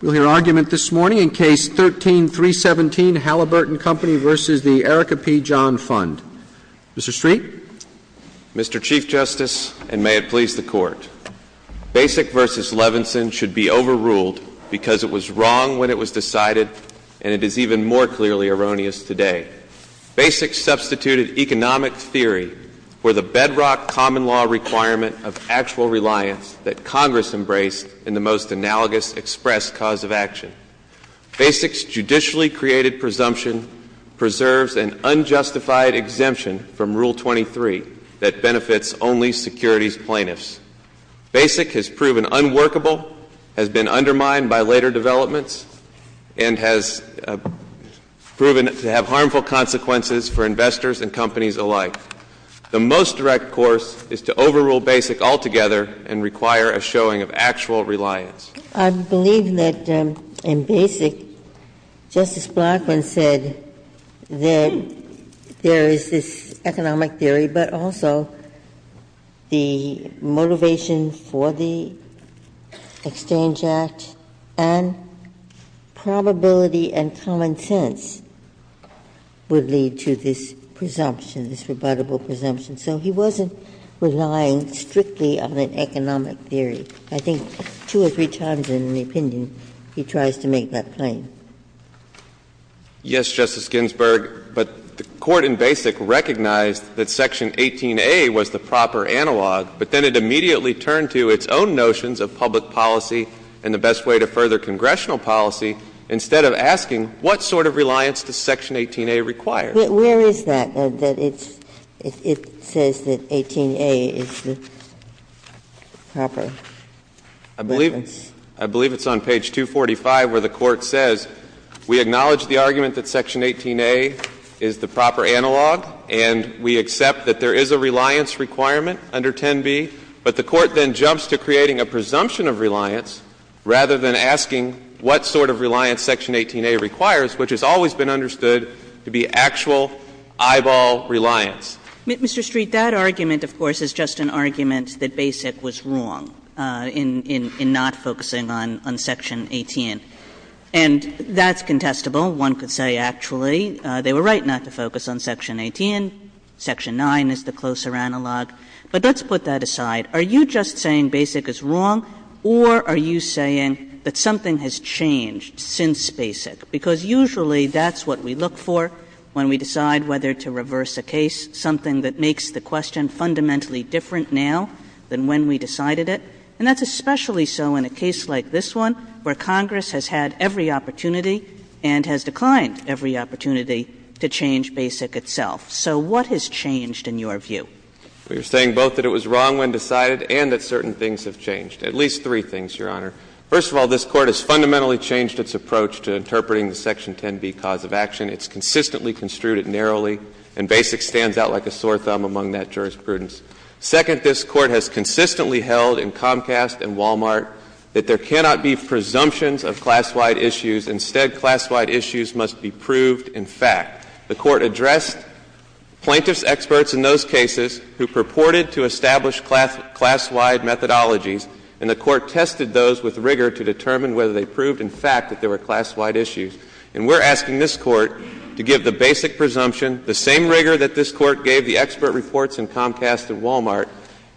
We'll hear argument this morning in Case 13-317, Halliburton Company v. the Erica P. John Fund. Mr. Street? Mr. Chief Justice, and may it please the Court, Basic v. Levinson should be overruled because it was wrong when it was decided, and it is even more clearly erroneous today. Basic substituted economic theory for the bedrock common law requirement of actual reliance that Congress embraced in the most analogous express cause of action. Basic's judicially created presumption preserves an unjustified exemption from Rule 23 that benefits only securities plaintiffs. Basic has proven unworkable, has been undermined by later developments, and has proven to have harmful consequences for investors and companies alike. The most direct course is to overrule Basic altogether and require a showing of actual reliance. I believe that in Basic, Justice Blackmun said that there is this economic theory, but also the motivation for the Exchange Act and probability and common sense would lead to this presumption, this rebuttable presumption. So he wasn't relying strictly on an economic theory. I think two or three times in the opinion he tries to make that claim. Yes, Justice Ginsburg, but the Court in Basic recognized that section 18a was the proper analog, but then it immediately turned to its own notions of public policy and the best way to further congressional policy instead of asking what sort of reliance does section 18a require. Where is that? It says that 18a is the proper. I believe it's on page 245 where the Court says, we acknowledge the argument that section 18a is the proper analog, and we accept that there is a reliance requirement under 10b, but the Court then jumps to creating a presumption of reliance rather than asking what sort of reliance section 18a requires, which has always been understood to be actual eyeball reliance. Kagan, Mr. Street, that argument, of course, is just an argument that Basic was wrong in not focusing on section 18, and that's contestable. One could say, actually, they were right not to focus on section 18. Section 9 is the closer analog. But let's put that aside. Are you just saying Basic is wrong, or are you saying that something has changed since Basic? Because usually that's what we look for when we decide whether to reverse a case, something that makes the question fundamentally different now than when we decided it, and that's especially so in a case like this one, where Congress has had every opportunity and has declined every opportunity to change Basic itself. So what has changed in your view? We are saying both that it was wrong when decided and that certain things have changed, at least three things, Your Honor. First of all, this Court has fundamentally changed its approach to interpreting the section 10b cause of action. It's consistently construed it narrowly, and Basic stands out like a sore thumb among that jurisprudence. Second, this Court has consistently held in Comcast and Walmart that there cannot be presumptions of class-wide issues. Instead, class-wide issues must be proved in fact. The Court addressed plaintiffs' experts in those cases who purported to establish class-wide methodologies, and the Court tested those with rigor to determine whether they proved in fact that there were class-wide issues. And we're asking this Court to give the basic presumption, the same rigor that this Court gave the expert reports in Comcast and Walmart,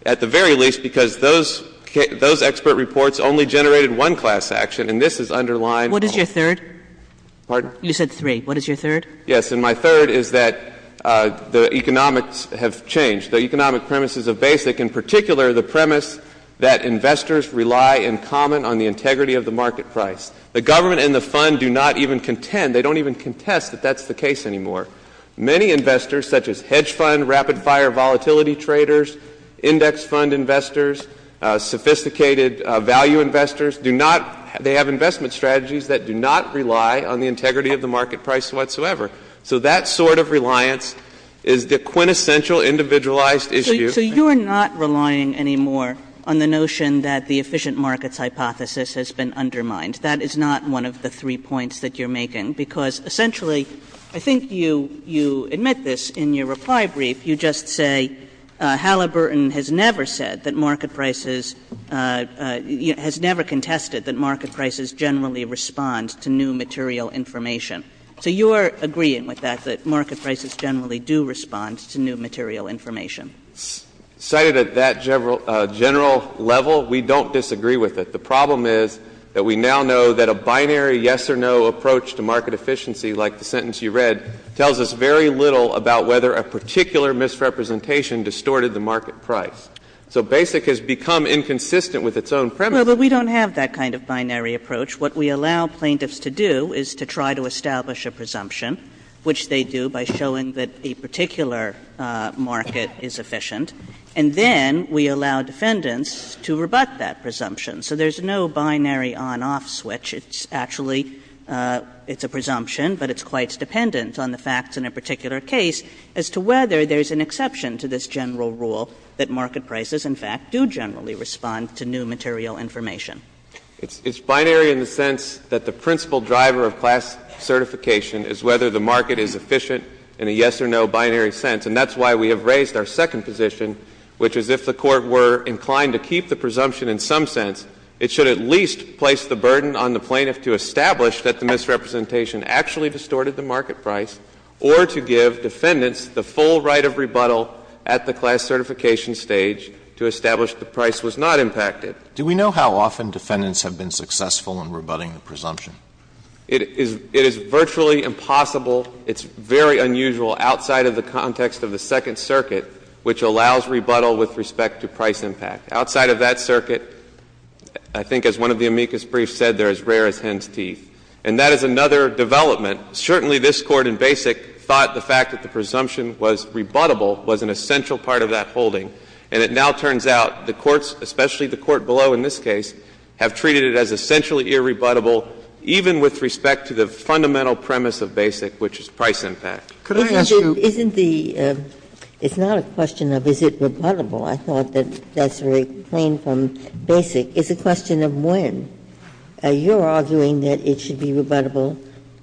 at the very least because those expert reports only generated one class action, and this is underlying Walmart. What is your third? Pardon? You said three. What is your third? Yes. My second premise and my third is that the economics have changed. The economic premise is a basic. In particular, the premise that investors rely in common on the integrity of the market price. The government and the fund do not even contend, they don't even contest that that's the case anymore. Many investors, such as hedge fund, rapid-fire volatility traders, index fund investors, sophisticated value investors, do not — they have investment strategies that do not rely on the integrity of the market price whatsoever. So that sort of reliance is the quintessential individualized issue. So you're not relying anymore on the notion that the efficient markets hypothesis has been undermined. That is not one of the three points that you're making, because essentially I think you — you admit this in your reply brief. You just say Halliburton has never said that market prices — has never contested that market prices generally respond to new material information. So you're agreeing with that, that market prices generally do respond to new material information. Cited at that general level, we don't disagree with it. The problem is that we now know that a binary yes or no approach to market efficiency like the sentence you read tells us very little about whether a particular misrepresentation distorted the market price. So basic has become inconsistent with its own premise. Kagan. Well, but we don't have that kind of binary approach. What we allow plaintiffs to do is to try to establish a presumption, which they do by showing that a particular market is efficient. And then we allow defendants to rebut that presumption so there's no binary on-off switch. It's actually — it's a presumption, but it's quite dependent on the facts in a particular case as to whether there's an exception to this general rule that market prices, in fact, do generally respond to new material information. It's binary in the sense that the principal driver of class certification is whether the market is efficient in a yes or no binary sense. And that's why we have raised our second position, which is if the Court were inclined to keep the presumption in some sense, it should at least place the burden on the plaintiff to establish that the misrepresentation actually distorted the market price or to give defendants the full right of rebuttal at the class certification stage to establish the price was not impacted. Do we know how often defendants have been successful in rebutting the presumption? It is — it is virtually impossible. It's very unusual outside of the context of the Second Circuit, which allows rebuttal with respect to price impact. Outside of that circuit, I think as one of the amicus briefs said, they're as rare as hen's teeth. And that is another development. Certainly, this Court in Basic thought the fact that the presumption was rebuttable was an essential part of that holding. And it now turns out the courts, especially the court below in this case, have treated it as essentially irrebuttable, even with respect to the fundamental premise of Basic, which is price impact. Sotomayor, isn't the — it's not a question of is it rebuttable. I thought that that's very plain from Basic. It's a question of when. You're arguing that it should be rebuttable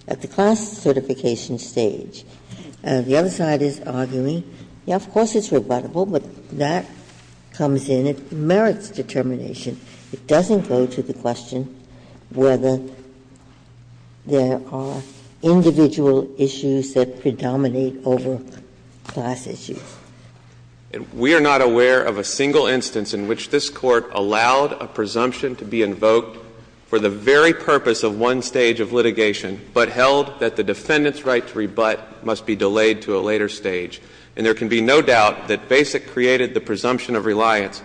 at the class certification stage. The other side is arguing, yes, of course it's rebuttable, but that comes in. It merits determination. It doesn't go to the question whether there are individual issues that predominate over class issues. We are not aware of a single instance in which this Court allowed a presumption to be invoked for the very purpose of one stage of litigation, but held that the defendant's right to rebut must be delayed to a later stage. And there can be no doubt that Basic created the presumption of reliance,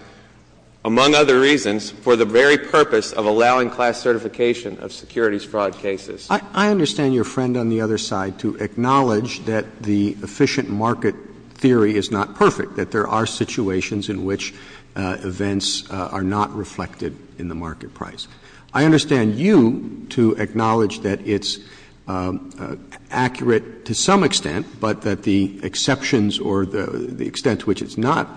among other reasons, for the very purpose of allowing class certification of securities fraud cases. I understand your friend on the other side to acknowledge that the efficient market theory is not perfect, that there are situations in which events are not reflected in the market price. I understand you to acknowledge that it's accurate to some extent, but that the exceptions or the extent to which it's not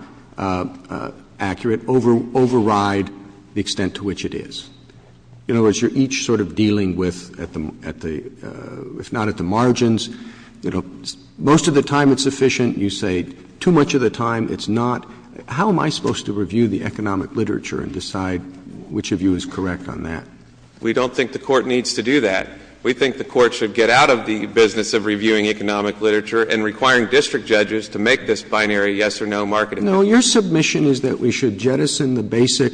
accurate override the extent to which it is. In other words, you're each sort of dealing with, at the — if not at the margins, you know, most of the time it's efficient. You say too much of the time it's not. How am I supposed to review the economic literature and decide which of you is correct on that? We don't think the Court needs to do that. We think the Court should get out of the business of reviewing economic literature and requiring district judges to make this binary yes or no market effect. No, your submission is that we should jettison the Basic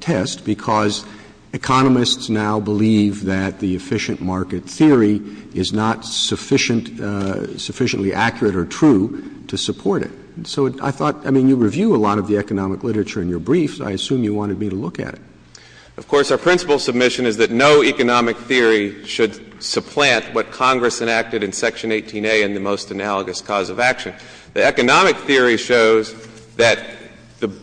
test because economists now believe that the efficient market theory is not sufficient — sufficiently accurate or true to support it. So I thought — I mean, you review a lot of the economic literature in your briefs. I assume you wanted me to look at it. Of course, our principal submission is that no economic theory should supplant what Congress enacted in Section 18A in the most analogous cause of action. The economic theory shows that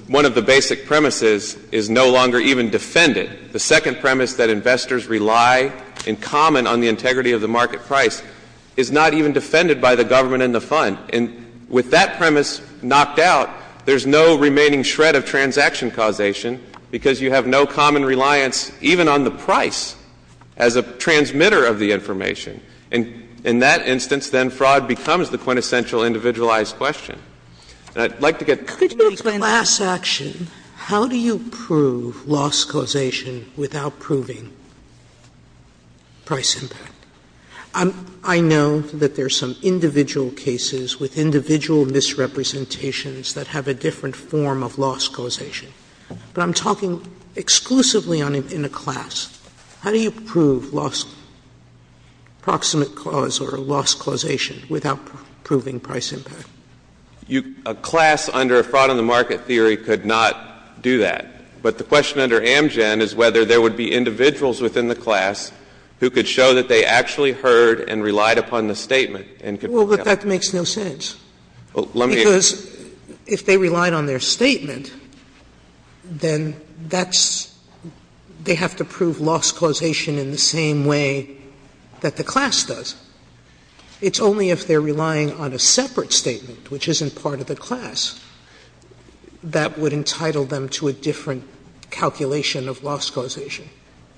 one of the basic premises is no longer even defended. The second premise, that investors rely in common on the integrity of the market price, is not even defended by the government and the Fund. And with that premise knocked out, there's no remaining shred of transaction causation because you have no common reliance even on the price as a transmitter of the information. And in that instance, then fraud becomes the quintessential individualized question. And I'd like to get to the point. Sotomayor, could you explain how do you prove loss causation without proving price impact? I know that there's some individual cases with individual misrepresentations that have a different form of loss causation. But I'm talking exclusively in a class. How do you prove loss, proximate cause or loss causation without proving price impact? A class under a fraud in the market theory could not do that. But the question under Amgen is whether there would be individuals within the class who could show that they actually heard and relied upon the statement and could Sotomayor, that makes no sense. Because if they relied on their statement, then that's they have to prove loss causation in the same way that the class does. It's only if they're relying on a separate statement, which isn't part of the class, that would entitle them to a different calculation of loss causation.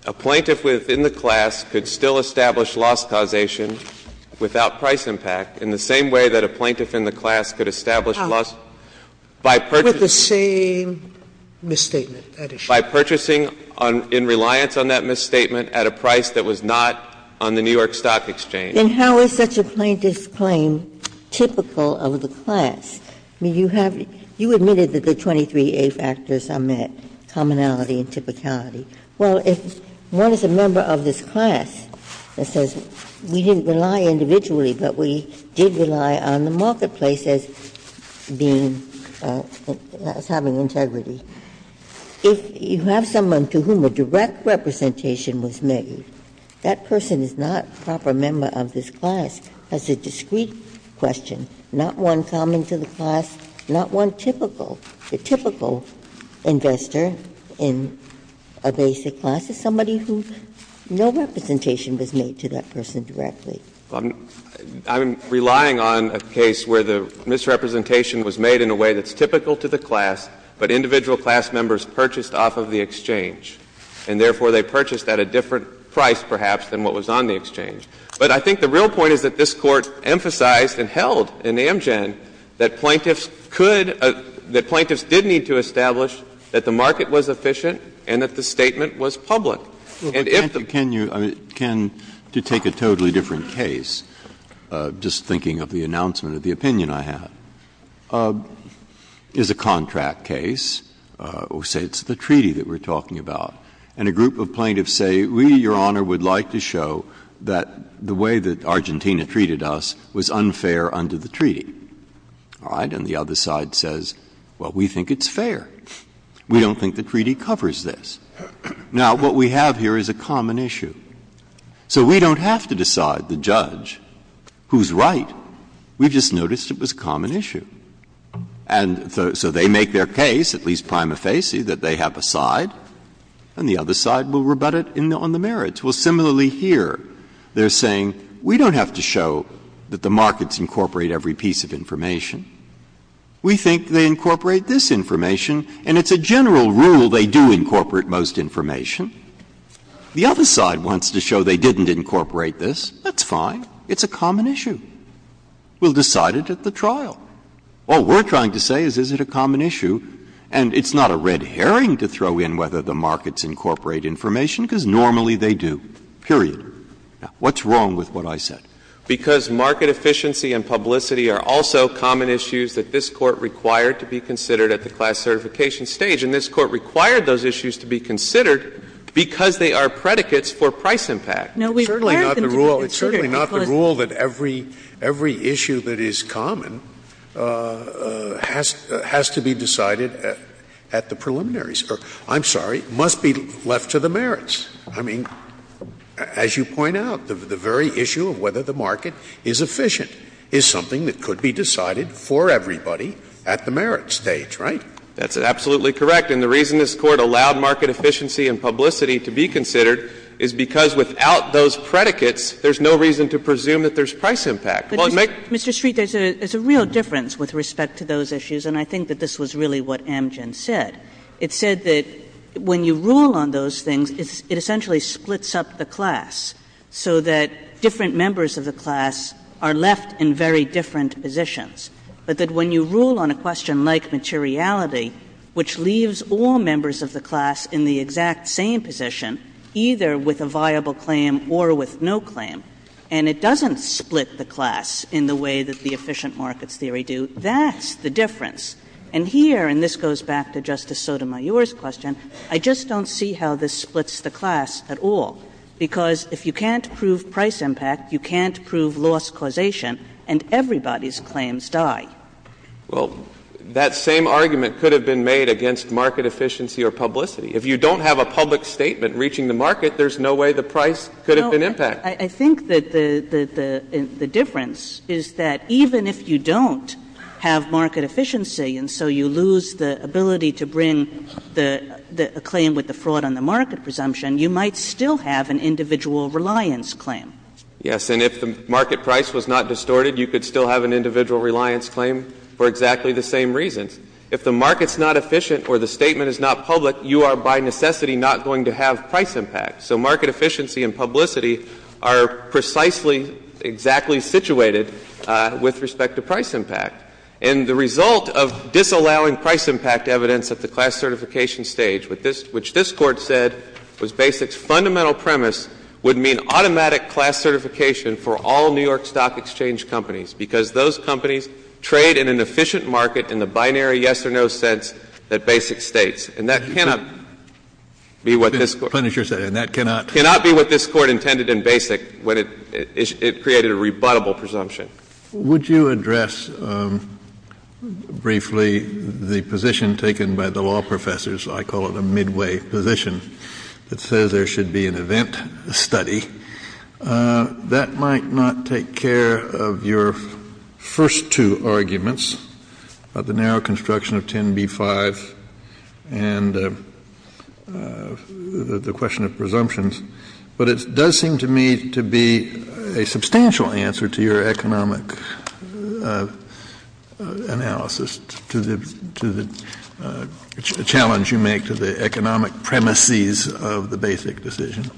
A plaintiff within the class could still establish loss causation without price impact in the same way that a plaintiff in the class could establish loss by purchasing by purchasing in reliance on that misstatement at a price that was not on the New York Stock Exchange. And how is such a plaintiff's claim typical of the class? I mean, you have you admitted that the 23A factors are met, commonality and typicality. Well, if one is a member of this class that says we didn't rely individually, but we did rely on the marketplace as being, as having integrity, if you have someone to whom a direct representation was made, that person is not a proper member of this class, that's a discrete question, not one common to the class, not one typical, the typical investor in a basic class, it's somebody who no representation was made to that person directly. I'm relying on a case where the misrepresentation was made in a way that's typical to the class, but individual class members purchased off of the exchange, and therefore they purchased at a different price, perhaps, than what was on the exchange. But I think the real point is that this Court emphasized and held in Amgen that plaintiffs could, that plaintiffs did need to establish that the market was efficient and that the statement was public. And if the Breyer, can you, I mean, can, to take a totally different case, just thinking of the announcement of the opinion I had, is a contract case, or say it's the treaty that we're talking about, and a group of plaintiffs say, we, Your Honor, would like to show that the way that Argentina treated us was unfair under the treaty. All right? And the other side says, well, we think it's fair. We don't think the treaty covers this. Now, what we have here is a common issue. So we don't have to decide the judge who's right. We've just noticed it was a common issue. And so they make their case, at least prima facie, that they have a side, and the other side will rebut it on the merits. Well, similarly here, they're saying, we don't have to show that the markets incorporate every piece of information. We think they incorporate this information, and it's a general rule they do incorporate most information. The other side wants to show they didn't incorporate this. That's fine. It's a common issue. We'll decide it at the trial. All we're trying to say is, is it a common issue? And it's not a red herring to throw in whether the markets incorporate information, because normally they do, period. Now, what's wrong with what I said? Because market efficiency and publicity are also common issues that this Court required to be considered at the class certification stage, and this Court required those issues to be considered because they are predicates for price impact. Sotomayor, it's certainly not the rule that every issue that is common has to be decided at the preliminaries, or I'm sorry, must be left to the merits. I mean, as you point out, the very issue of whether the market is efficient is something that could be decided for everybody at the merits stage, right? That's absolutely correct. And the reason this Court allowed market efficiency and publicity to be considered is because without those predicates, there's no reason to presume that there's price impact. Well, it makes Mr. Street, there's a real difference with respect to those issues, and I think that this was really what Amgen said. It said that when you rule on those things, it essentially splits up the class so that different members of the class are left in very different positions, but that when you rule on a question like materiality, which leaves all members of the class in the exact same position, either with a viable claim or with no claim, and it doesn't split the class in the way that the efficient markets theory do, that's the difference. And here, and this goes back to Justice Sotomayor's question, I just don't see how this splits the class at all, because if you can't prove price impact, you can't prove loss causation, and everybody's claims die. Well, that same argument could have been made against market efficiency or publicity. If you don't have a public statement reaching the market, there's no way the price could have been impacted. I think that the difference is that even if you don't have market efficiency and so you lose the ability to bring the claim with the fraud on the market presumption, you might still have an individual reliance claim. Yes, and if the market price was not distorted, you could still have an individual reliance claim for exactly the same reasons. If the market's not efficient or the statement is not public, you are by necessity not going to have price impact. So market efficiency and publicity are precisely exactly situated with respect to price impact. And the result of disallowing price impact evidence at the class certification stage, which this Court said was BASIC's fundamental premise, would mean automatic class certification for all New York Stock Exchange companies, because those companies trade in an efficient market in the binary yes or no sense that BASIC states. And that cannot be what this Court says. And that cannot be what this Court intended in BASIC when it created a rebuttable presumption. Kennedy, would you address briefly the position taken by the law professors — I call it a midway position that says there should be an event study — that might not take care of your first two arguments, the narrow construction of 10b-5 and the question of presumptions. But it does seem to me to be a substantial answer to your economic analysis, to the challenge you make to the economic premises of the BASIC decision.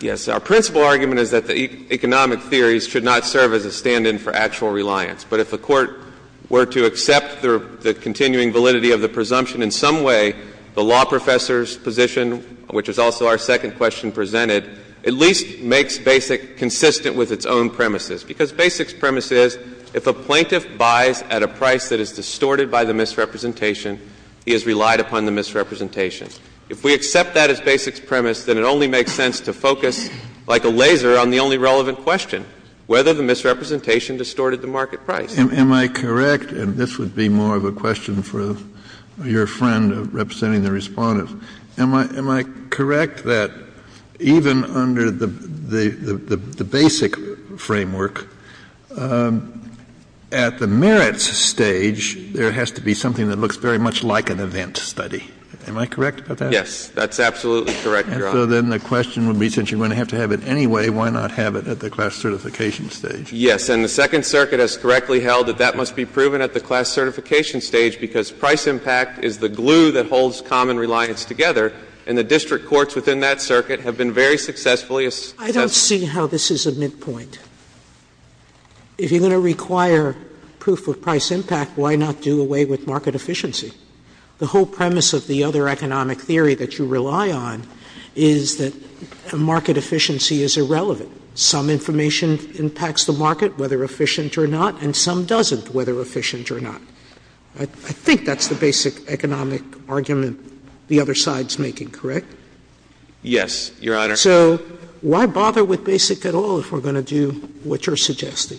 Yes. Our principal argument is that the economic theories should not serve as a stand-in for actual reliance. But if a court were to accept the continuing validity of the presumption in some way, the law professor's position, which is also our second question presented, at least makes BASIC consistent with its own premises. Because BASIC's premise is if a plaintiff buys at a price that is distorted by the misrepresentation, he has relied upon the misrepresentation. If we accept that as BASIC's premise, then it only makes sense to focus, like a laser, on the only relevant question, whether the misrepresentation distorted the market price. Kennedy, am I correct, and this would be more of a question for your friend representing the Respondent, am I correct that even under the BASIC framework, at the merits stage, there has to be something that looks very much like an event study? Am I correct about that? Yes. That's absolutely correct, Your Honor. And so then the question would be, since you're going to have to have it anyway, why not have it at the class certification stage? Yes. And the Second Circuit has correctly held that that must be proven at the class certification stage, because price impact is the glue that holds common reliance together, and the district courts within that circuit have been very successfully assessed. Sotomayor, I don't see how this is a midpoint. If you're going to require proof of price impact, why not do away with market efficiency? The whole premise of the other economic theory that you rely on is that a market efficiency is irrelevant. Some information impacts the market, whether efficient or not, and some doesn't, whether efficient or not. I think that's the basic economic argument the other side's making, correct? Yes, Your Honor. So why bother with BASIC at all if we're going to do what you're suggesting?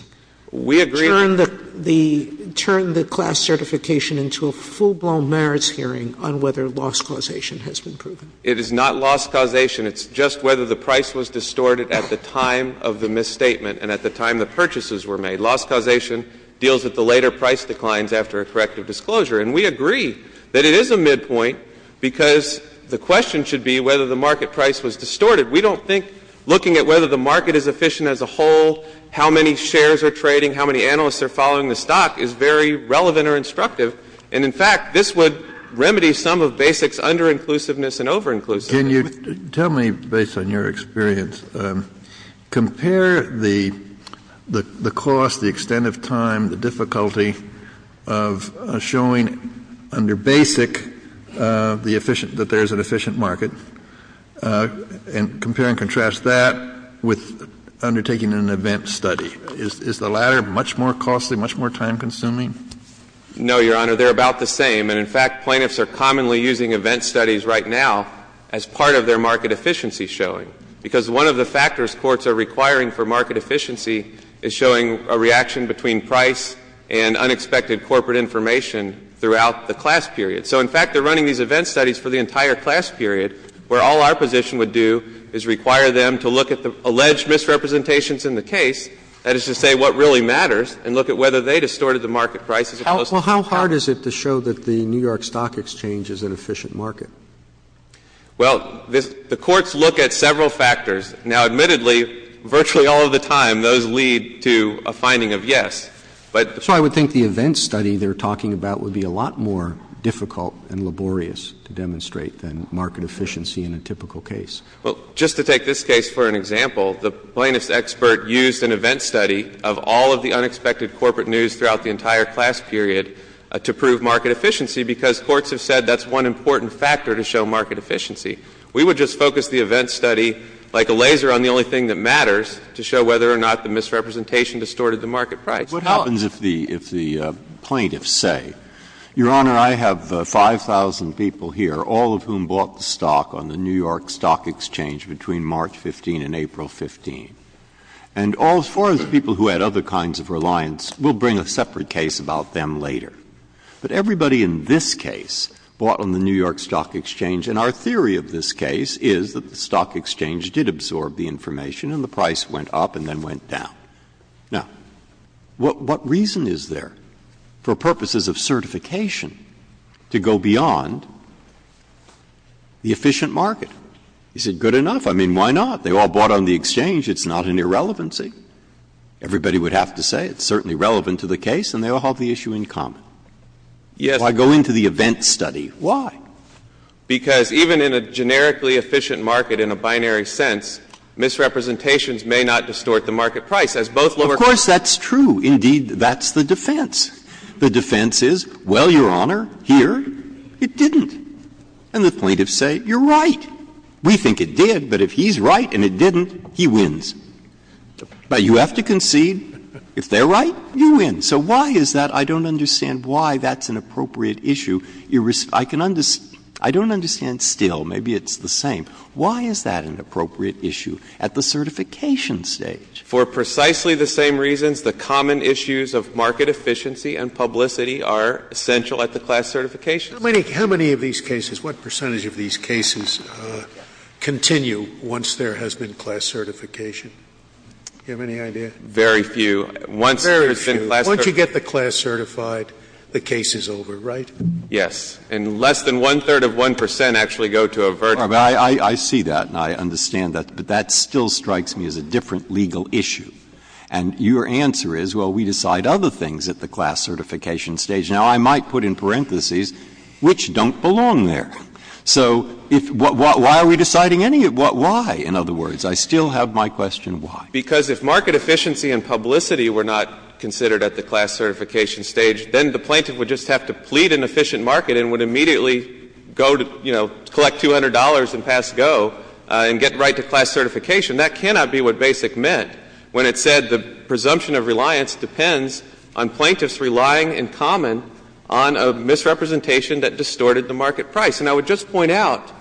We agree that the We turn the class certification into a full-blown merits hearing on whether loss causation has been proven. It is not loss causation. It's just whether the price was distorted at the time of the misstatement and at the time the purchases were made. Loss causation deals with the later price declines after a corrective disclosure. And we agree that it is a midpoint, because the question should be whether the market price was distorted. We don't think looking at whether the market is efficient as a whole, how many shares are trading, how many analysts are following the stock is very relevant or instructive. And, in fact, this would remedy some of BASIC's under-inclusiveness and over-inclusiveness. Kennedy, tell me, based on your experience, compare the cost, the extent of time, the difficulty of showing under BASIC the efficient, that there is an efficient market, and compare and contrast that with undertaking an event study. Is the latter much more costly, much more time-consuming? No, Your Honor. They're about the same. And, in fact, plaintiffs are commonly using event studies right now as part of their market efficiency showing, because one of the factors courts are requiring for market efficiency is showing a reaction between price and unexpected corporate information throughout the class period. So, in fact, they're running these event studies for the entire class period, where all our position would do is require them to look at the alleged misrepresentations in the case, that is to say, what really matters, and look at whether they distorted the market price as a consequence of that. Well, how hard is it to show that the New York Stock Exchange is an efficient market? Well, the courts look at several factors. Now, admittedly, virtually all of the time, those lead to a finding of yes. But the point is that the event study they're talking about would be a lot more difficult and laborious to demonstrate than market efficiency in a typical case. Well, just to take this case for an example, the plaintiff's expert used an event study of all of the unexpected corporate news throughout the entire class period to prove market efficiency, because courts have said that's one important factor to show market efficiency. We would just focus the event study like a laser on the only thing that matters to show whether or not the misrepresentation distorted the market price. What happens if the plaintiffs say, Your Honor, I have 5,000 people here, all of whom bought the stock on the New York Stock Exchange between March 15 and April 15. And as far as people who had other kinds of reliance, we'll bring a separate case about them later. But everybody in this case bought on the New York Stock Exchange, and our theory of this case is that the stock exchange did absorb the information and the price went up and then went down. Now, what reason is there for purposes of certification to go beyond the efficient market? Is it good enough? I mean, why not? They all bought on the exchange. It's not an irrelevancy. Everybody would have to say it's certainly relevant to the case, and they all have the issue in common. If I go into the event study, why? Because even in a generically efficient market in a binary sense, misrepresentations may not distort the market price. As both lower courts say. Of course, that's true. Indeed, that's the defense. The defense is, well, Your Honor, here it didn't. And the plaintiffs say, you're right. We think it did, but if he's right and it didn't, he wins. But you have to concede, if they're right, you win. So why is that? I don't understand why that's an appropriate issue. I can understand — I don't understand still, maybe it's the same. Why is that an appropriate issue at the certification stage? For precisely the same reasons, the common issues of market efficiency and publicity are essential at the class certifications. Scalia, how many of these cases, what percentage of these cases continue once there has been class certification? Do you have any idea? Very few. Once there has been class certification. Once you get the class certified, the case is over, right? Yes. And less than one-third of 1 percent actually go to a vertical. I see that, and I understand that. But that still strikes me as a different legal issue. And your answer is, well, we decide other things at the class certification stage. Now, I might put in parentheses, which don't belong there. So if — why are we deciding any — why, in other words? I still have my question why. Because if market efficiency and publicity were not considered at the class certification stage, then the plaintiff would just have to plead an efficient market and would immediately go to, you know, collect $200 and pass go and get right to class certification. That cannot be what Basic meant when it said the presumption of reliance depends on plaintiffs relying in common on a misrepresentation that distorted the market price. And I would just point out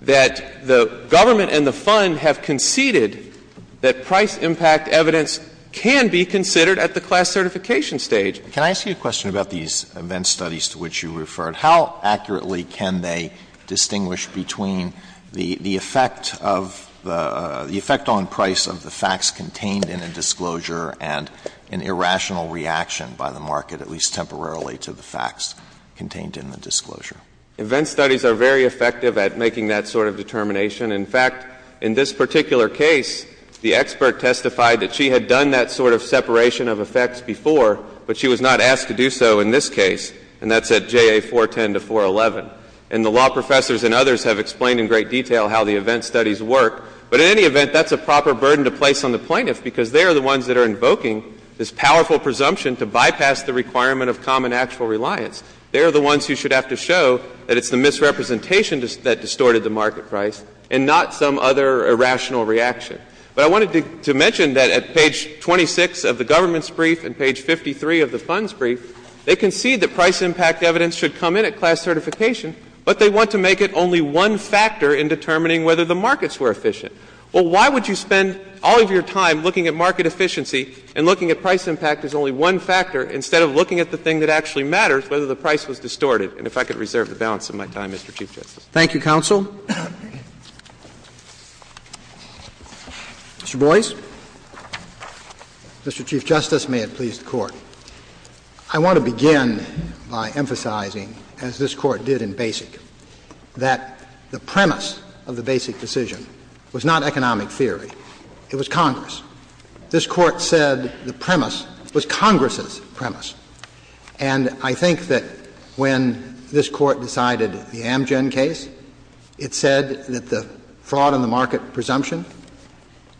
that the government and the Fund have conceded that price impact evidence can be considered at the class certification stage. Can I ask you a question about these event studies to which you referred? How accurately can they distinguish between the effect of the — the effect on price of the facts contained in a disclosure and an irrational reaction by the market, at least temporarily, to the facts contained in the disclosure? Event studies are very effective at making that sort of determination. In fact, in this particular case, the expert testified that she had done that sort of separation of effects before, but she was not asked to do so in this case, and that's at JA 410 to 411. And the law professors and others have explained in great detail how the event studies work. But in any event, that's a proper burden to place on the plaintiffs, because they are the ones that are invoking this powerful presumption to bypass the requirement of common actual reliance. They are the ones who should have to show that it's the misrepresentation that distorted the market price and not some other irrational reaction. But I wanted to mention that at page 26 of the government's brief and page 53 of the Fund's brief, they concede that price impact evidence should come in at class certification, but they want to make it only one factor in determining whether the markets were efficient. Well, why would you spend all of your time looking at market efficiency and looking at price impact as only one factor instead of looking at the thing that actually matters, whether the price was distorted? And if I could reserve the balance of my time, Mr. Chief Justice. Thank you, counsel. Mr. Chief Justice, may it please the Court. I want to begin by emphasizing, as this Court did in Basic, that the premise of the Basic decision was not economic theory. It was Congress. This Court said the premise was Congress's premise. And I think that when this Court decided the Amgen case, it said that the fraud in the market presumption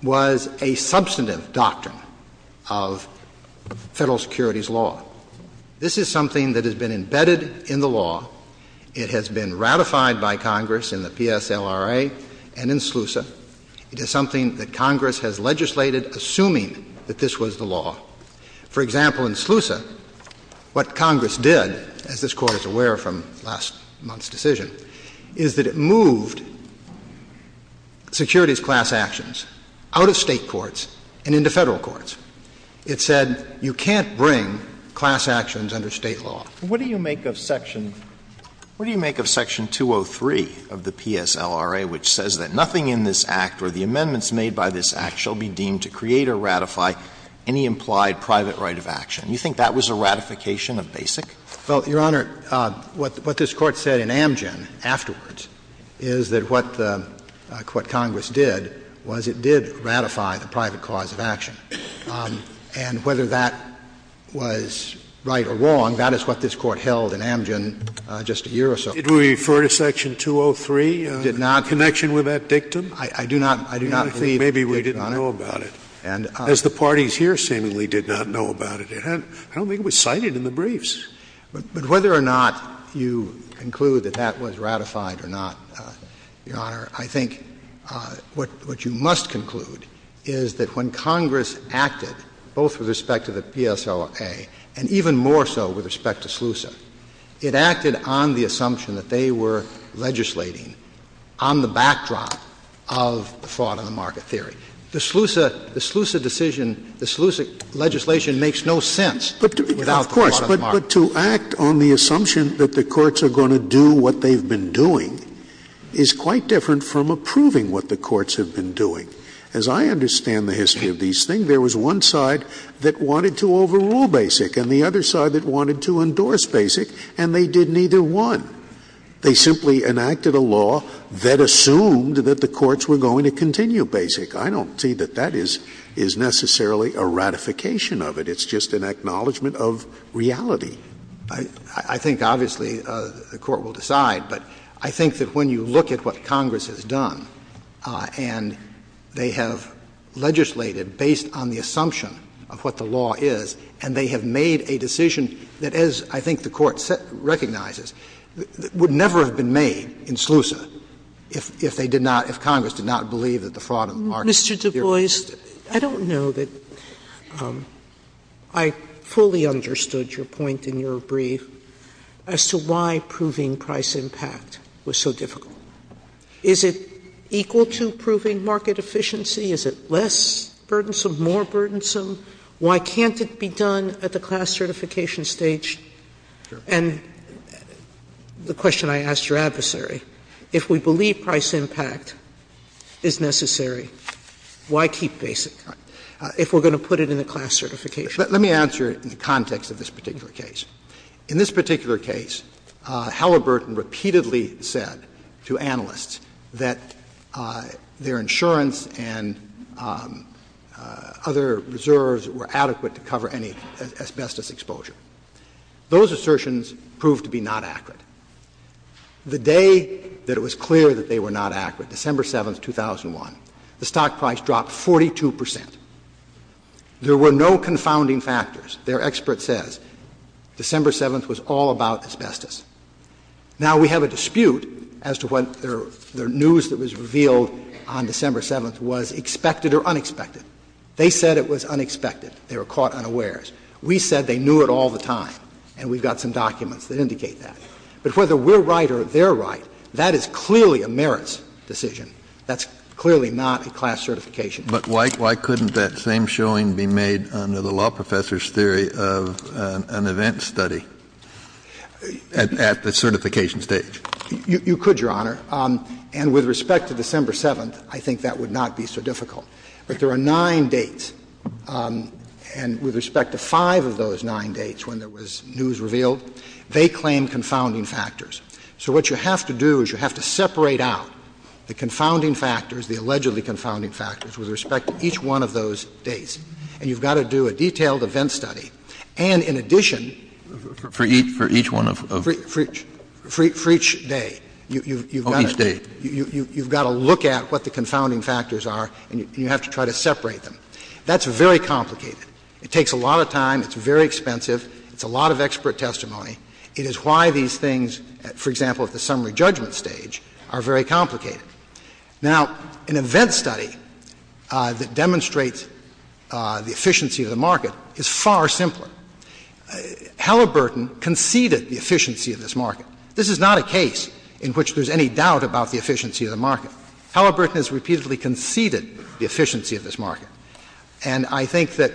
was a substantive doctrine of Federal securities law. This is something that has been embedded in the law. It has been ratified by Congress in the PSLRA and in SLUSA. It is something that Congress has legislated assuming that this was the law. For example, in SLUSA, what Congress did, as this Court is aware from last month's decision, is that it moved securities class actions out of State courts and into Federal courts. It said you can't bring class actions under State law. What do you make of section 203 of the PSLRA, which says that nothing in this Act or the amendments made by this Act shall be deemed to create or ratify any implied private right of action? You think that was a ratification of Basic? Well, Your Honor, what this Court said in Amgen afterwards is that what the — what Congress did was it did ratify the private cause of action. And whether that was right or wrong, that is what this Court held in Amgen just a year or so ago. Did we refer to section 203? Did not. Connection with that dictum? I do not believe we did, Your Honor. Maybe we didn't know about it, as the parties here seemingly did not know about it. I don't think it was cited in the briefs. But whether or not you conclude that that was ratified or not, Your Honor, I think what you must conclude is that when Congress acted, both with respect to the PSLRA and even more so with respect to SLUSA, it acted on the assumption that they were legislating on the backdrop of the fraud-on-the-market theory. The SLUSA decision, the SLUSA legislation, makes no sense without the fraud-on-the-market And the fact that you act on the assumption that the courts are going to do what they've been doing is quite different from approving what the courts have been doing. As I understand the history of these things, there was one side that wanted to overrule BASIC and the other side that wanted to endorse BASIC, and they did neither one. They simply enacted a law that assumed that the courts were going to continue BASIC. I don't see that that is necessarily a ratification of it. It's just an acknowledgment of reality. I think, obviously, the Court will decide, but I think that when you look at what Congress has done, and they have legislated based on the assumption of what the law is, and they have made a decision that, as I think the Court recognizes, would never have been made in SLUSA if they did not, if Congress did not believe that the fraud-on-the-market theory existed. Sotomayor, I don't know that I fully understood your point in your brief as to why proving price impact was so difficult. Is it equal to proving market efficiency? Is it less burdensome, more burdensome? Why can't it be done at the class certification stage? And the question I asked your adversary, if we believe price impact is necessary, why keep BASIC if we are going to put it in the class certification? Let me answer it in the context of this particular case. In this particular case, Halliburton repeatedly said to analysts that their insurance and other reserves were adequate to cover any asbestos exposure. Those assertions proved to be not accurate. The day that it was clear that they were not accurate, December 7, 2001, the Court said the stock price dropped 42 percent. There were no confounding factors. Their expert says December 7th was all about asbestos. Now, we have a dispute as to whether the news that was revealed on December 7th was expected or unexpected. They said it was unexpected. They were caught unawares. We said they knew it all the time, and we've got some documents that indicate that. But whether we're right or they're right, that is clearly a merits decision. That's clearly not a class certification. But why couldn't that same showing be made under the law professor's theory of an event study at the certification stage? You could, Your Honor. And with respect to December 7th, I think that would not be so difficult. But there are nine dates, and with respect to five of those nine dates when there was news revealed, they claim confounding factors. So what you have to do is you have to separate out the confounding factors, the allegedly confounding factors, with respect to each one of those dates. And you've got to do a detailed event study. And in addition, for each day, you've got to look at what the confounding factors are, and you have to try to separate them. That's very complicated. It takes a lot of time, it's very expensive, it's a lot of expert testimony. It is why these things, for example, at the summary judgment stage, are very complicated. Now, an event study that demonstrates the efficiency of the market is far simpler. Halliburton conceded the efficiency of this market. This is not a case in which there's any doubt about the efficiency of the market. Halliburton has repeatedly conceded the efficiency of this market. And I think that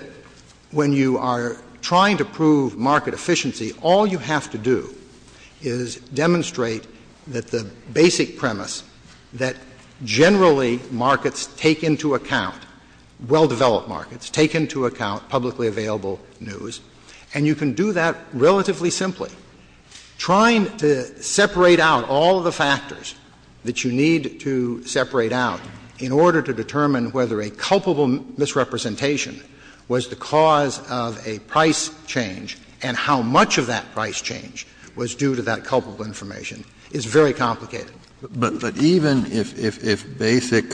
when you are trying to prove market efficiency, all you have to do is demonstrate that the basic premise that generally markets take into account, well-developed markets take into account publicly available news, and you can do that relatively simply. Trying to separate out all of the factors that you need to separate out in order to determine whether a culpable misrepresentation was the cause of a price change and how much of that price change was due to that culpable information is very complicated. But even if Basic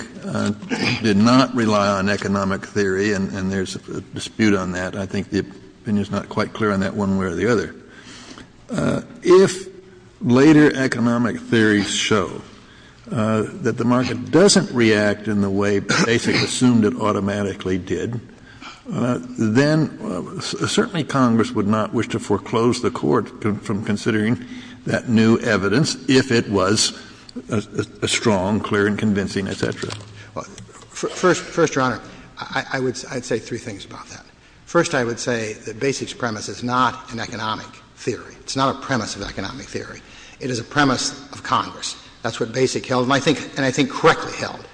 did not rely on economic theory, and there's a dispute on that, I think the opinion is not quite clear on that one way or the other, if later economic theories show that the market doesn't react in the way Basic assumed it automatically did, then certainly Congress would not wish to foreclose the Court from considering that new evidence if it was strong, clear, and convincing, et cetera. First, Your Honor, I would say three things about that. First, I would say that Basic's premise is not an economic theory. It's not a premise of economic theory. It is a premise of Congress. That's what Basic held, and I think — and I think correctly held,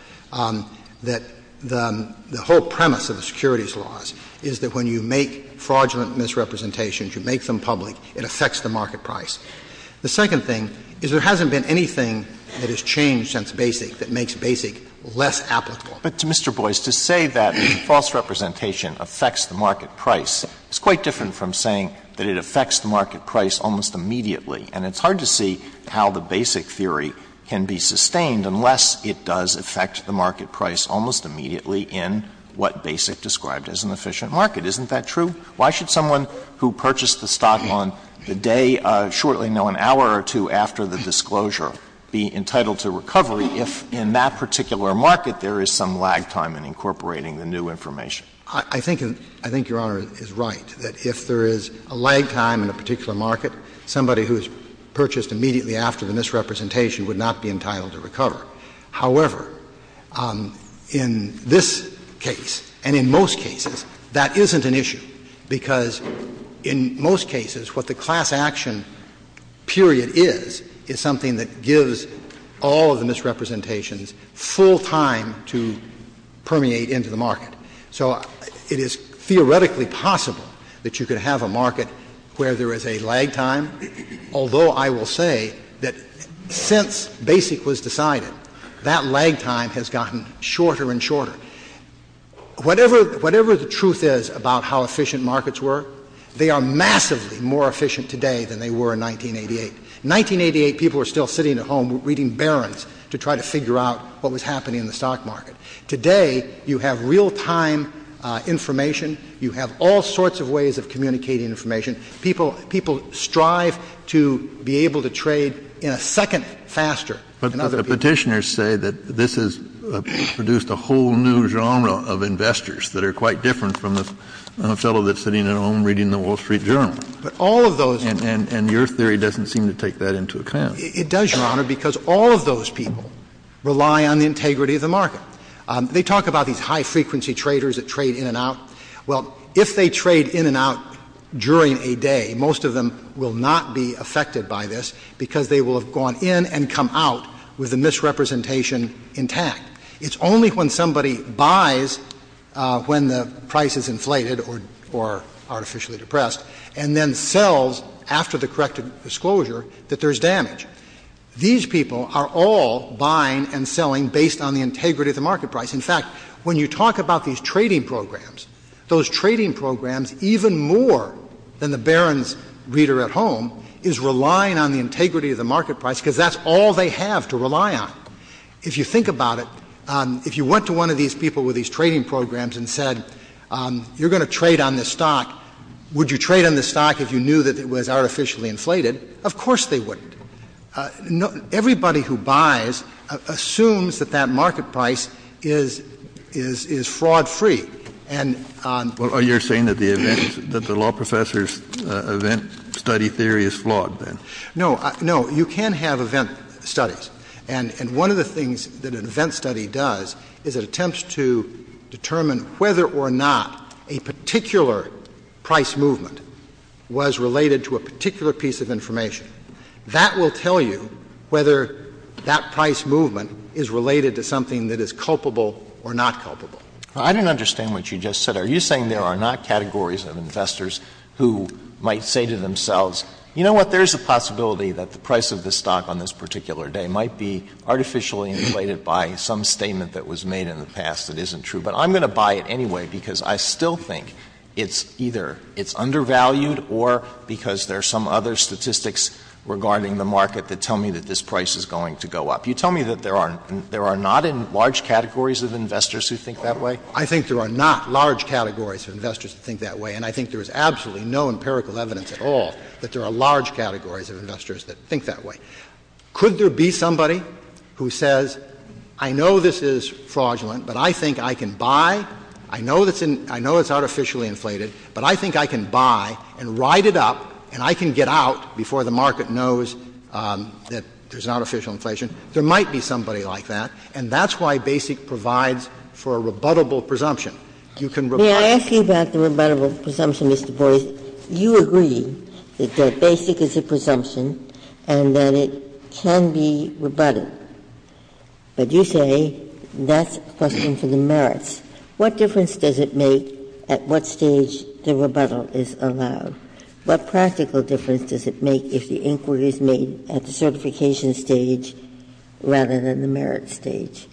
that the whole premise of the securities laws is that when you make fraudulent misrepresentations, you make them public, it affects the market price. The second thing is there hasn't been anything that has changed since Basic that makes Basic less applicable. Alitoso, but to Mr. Boies, to say that false representation affects the market price is quite different from saying that it affects the market price almost immediately. And it's hard to see how the Basic theory can be sustained unless it does affect the market price almost immediately in what Basic described as an efficient market. Isn't that true? Why should someone who purchased the stock on the day shortly, no, an hour or two after the disclosure, be entitled to recovery if in that particular market there is some lag time in incorporating the new information? I think — I think Your Honor is right, that if there is a lag time in a particular market, somebody who is purchased immediately after the misrepresentation would not be entitled to recover. However, in this case and in most cases, that isn't an issue, because in most cases what the class action period is, is something that gives all of the misrepresentations full time to permeate into the market. So it is theoretically possible that you could have a market where there is a lag time, although I will say that since Basic was decided, that lag time has gotten shorter and shorter. Whatever the truth is about how efficient markets were, they are massively more efficient today than they were in 1988. In 1988, people were still sitting at home reading Barron's to try to figure out what was happening in the stock market. Today, you have real-time information. You have all sorts of ways of communicating information. People strive to be able to trade in a second faster than other people. But the Petitioners say that this has produced a whole new genre of investors that are quite different from the fellow that's sitting at home reading the Wall Street Journal. But all of those — And your theory doesn't seem to take that into account. It does, Your Honor, because all of those people rely on the integrity of the market. They talk about these high-frequency traders that trade in and out. Well, if they trade in and out during a day, most of them will not be affected by this because they will have gone in and come out with the misrepresentation intact. It's only when somebody buys when the price is inflated or artificially depressed and then sells after the correct disclosure that there's damage. These people are all buying and selling based on the integrity of the market price. In fact, when you talk about these trading programs, those trading programs, even more than the Barron's reader at home, is relying on the integrity of the market price because that's all they have to rely on. If you think about it, if you went to one of these people with these trading programs and said, you're going to trade on this stock, would you trade on this stock if you knew that it was artificially inflated, of course they wouldn't. Everybody who buys assumes that that market price is — is — is fraud-free. And on — Well, you're saying that the event — that the law professor's event study theory is flawed, then. No. No. You can have event studies. And — and one of the things that an event study does is it attempts to determine whether or not a particular price movement was related to a particular piece of information. That will tell you whether that price movement is related to something that is culpable or not culpable. I don't understand what you just said. Are you saying there are not categories of investors who might say to themselves, you know what, there's a possibility that the price of this stock on this particular day might be artificially inflated by some statement that was made in the past that isn't true, but I'm going to buy it anyway because I still think it's either it's undervalued or because there are some other statistics regarding the market that tell me that this price is going to go up. You tell me that there are — there are not in large categories of investors who think that way? I think there are not large categories of investors who think that way, and I think there is absolutely no empirical evidence at all that there are large categories of investors that think that way. Could there be somebody who says, I know this is fraudulent, but I think I can buy — I know it's artificially inflated, but I think I can buy and ride it up and I can get out before the market knows that there's artificial inflation? There might be somebody like that, and that's why BASIC provides for a rebuttable presumption. You can rebut it. Ginsburg. May I ask you about the rebuttable presumption, Mr. Boies? You agree that BASIC is a presumption and that it can be rebutted, but you say that's a question for the merits. What difference does it make at what stage the rebuttal is allowed? What practical difference does it make if the inquiry is made at the certification stage rather than the merits stage?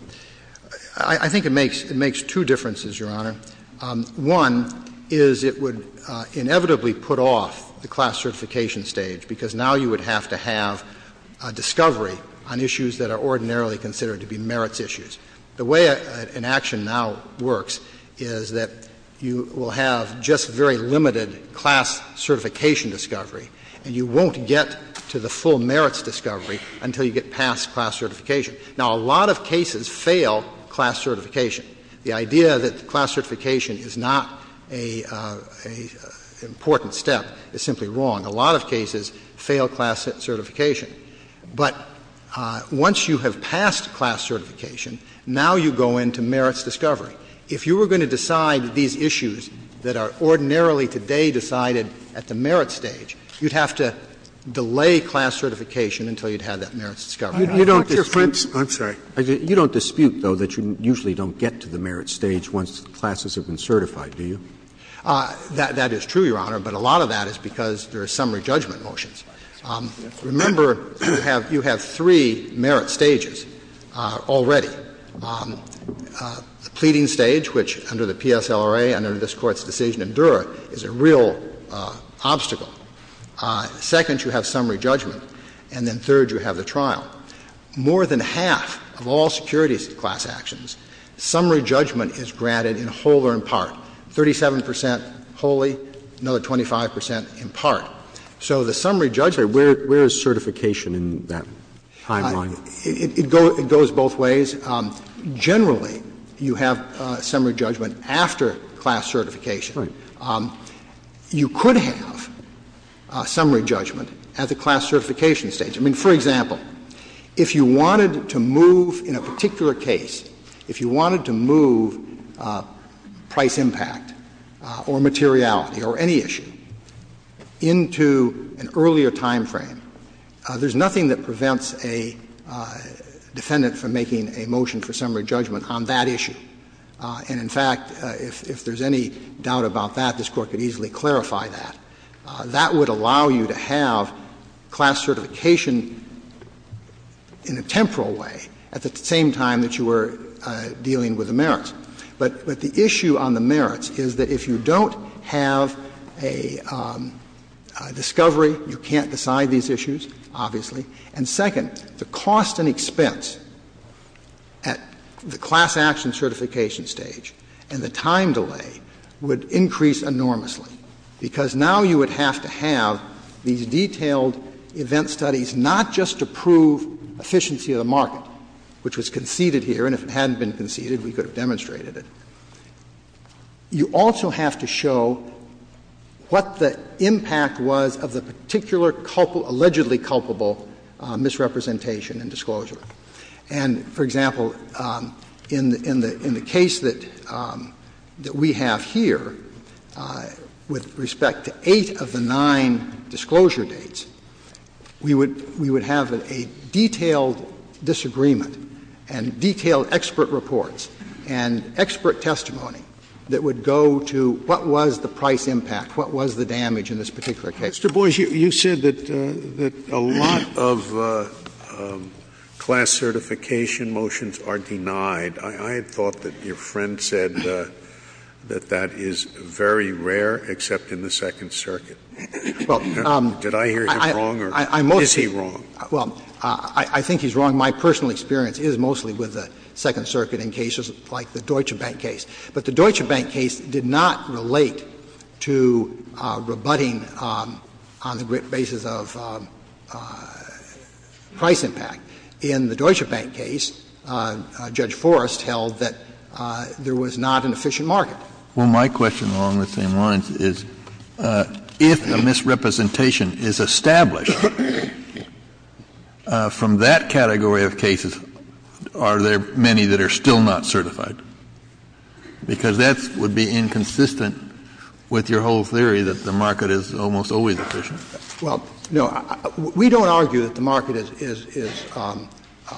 I think it makes two differences, Your Honor. One is it would inevitably put off the class certification stage, because now you would have to have a discovery on issues that are ordinarily considered to be merits issues. The way an action now works is that you will have just very limited class certification discovery, and you won't get to the full merits discovery until you get past class certification. Now, a lot of cases fail class certification. The idea that class certification is not an important step is simply wrong. A lot of cases fail class certification. But once you have passed class certification, now you go into merits discovery. If you were going to decide these issues that are ordinarily today decided at the merits stage, you would have to delay class certification until you had that merits discovery. You don't dispute. I'm sorry. You don't dispute, though, that you usually don't get to the merits stage once the classes have been certified, do you? That is true, Your Honor, but a lot of that is because there are summary judgment motions. Remember, you have three merits stages already. The pleading stage, which under the PSLRA and under this Court's decision endure, is a real obstacle. Second, you have summary judgment. And then third, you have the trial. More than half of all securities class actions, summary judgment is granted in whole or in part. Thirty-seven percent wholly, another 25 percent in part. So the summary judgment. Where is certification in that timeline? It goes both ways. Generally, you have summary judgment after class certification. You could have summary judgment at the class certification stage. I mean, for example, if you wanted to move in a particular case, if you wanted to move price impact or materiality or any issue into an earlier timeframe, there's nothing that prevents a defendant from making a motion for summary judgment on that issue. And in fact, if there's any doubt about that, this Court could easily clarify that. That would allow you to have class certification in a temporal way at the same time that you were dealing with the merits. But the issue on the merits is that if you don't have a discovery, you can't decide these issues, obviously. And second, the cost and expense at the class action certification stage and the time delay would increase enormously, because now you would have to have these detailed event studies not just to prove efficiency of the market, which was conceded here, and if it hadn't been conceded, we could have demonstrated it, you also have to show what the impact was of the particular allegedly culpable misrepresentation and disclosure. And, for example, in the case that we have here, with respect to eight of the nine disclosure dates, we would have a detailed disagreement and detailed expert reports and expert testimony that would go to what was the price impact, what was the damage in this particular case. Scalia. Mr. Boies, you said that a lot of class certification motions are denied. I had thought that your friend said that that is very rare, except in the Second Circuit. Did I hear him wrong or is he wrong? Well, I think he's wrong. My personal experience is mostly with the Second Circuit in cases like the Deutsche Bank case did not relate to rebutting on the basis of price impact. In the Deutsche Bank case, Judge Forrest held that there was not an efficient market. Well, my question along the same lines is, if a misrepresentation is established from that category of cases, are there many that are still not certified? Because that would be inconsistent with your whole theory that the market is almost always efficient. Well, no. We don't argue that the market is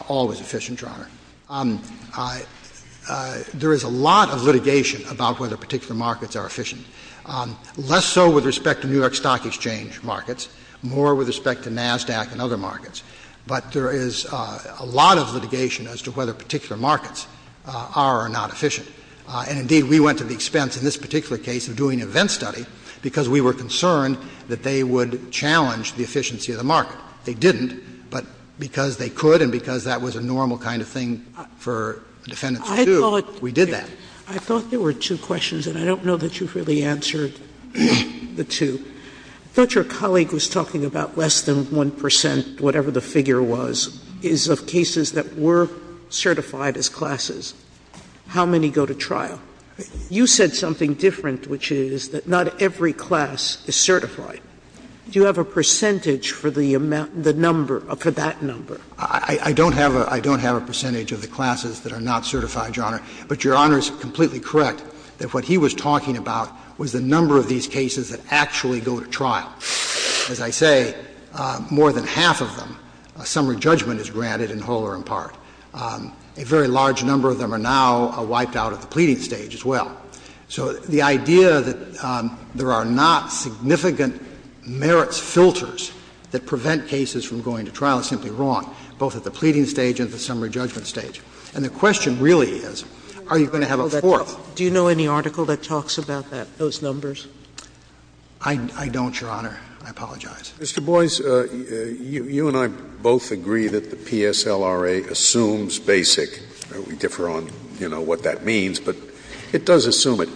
always efficient, Your Honor. There is a lot of litigation about whether particular markets are efficient, less so with respect to New York Stock Exchange markets, more with respect to NASDAQ and other markets. But there is a lot of litigation as to whether particular markets are or are not efficient. And indeed, we went to the expense in this particular case of doing an event study because we were concerned that they would challenge the efficiency of the market. They didn't, but because they could and because that was a normal kind of thing for defendants to do, we did that. I thought there were two questions, and I don't know that you've really answered the two. Sotomayor, I thought your colleague was talking about less than 1 percent, whatever the figure was, is of cases that were certified as classes. How many go to trial? You said something different, which is that not every class is certified. Do you have a percentage for the number, for that number? I don't have a percentage of the classes that are not certified, Your Honor. But Your Honor is completely correct that what he was talking about was the number of these cases that actually go to trial. As I say, more than half of them, a summary judgment is granted in whole or in part. A very large number of them are now wiped out at the pleading stage as well. So the idea that there are not significant merits filters that prevent cases from going to trial is simply wrong, both at the pleading stage and at the summary judgment stage. And the question really is, are you going to have a fourth? Do you know any article that talks about that, those numbers? I don't, Your Honor. I apologize. Mr. Boies, you and I both agree that the PSLRA assumes BASIC. We differ on, you know, what that means, but it does assume it.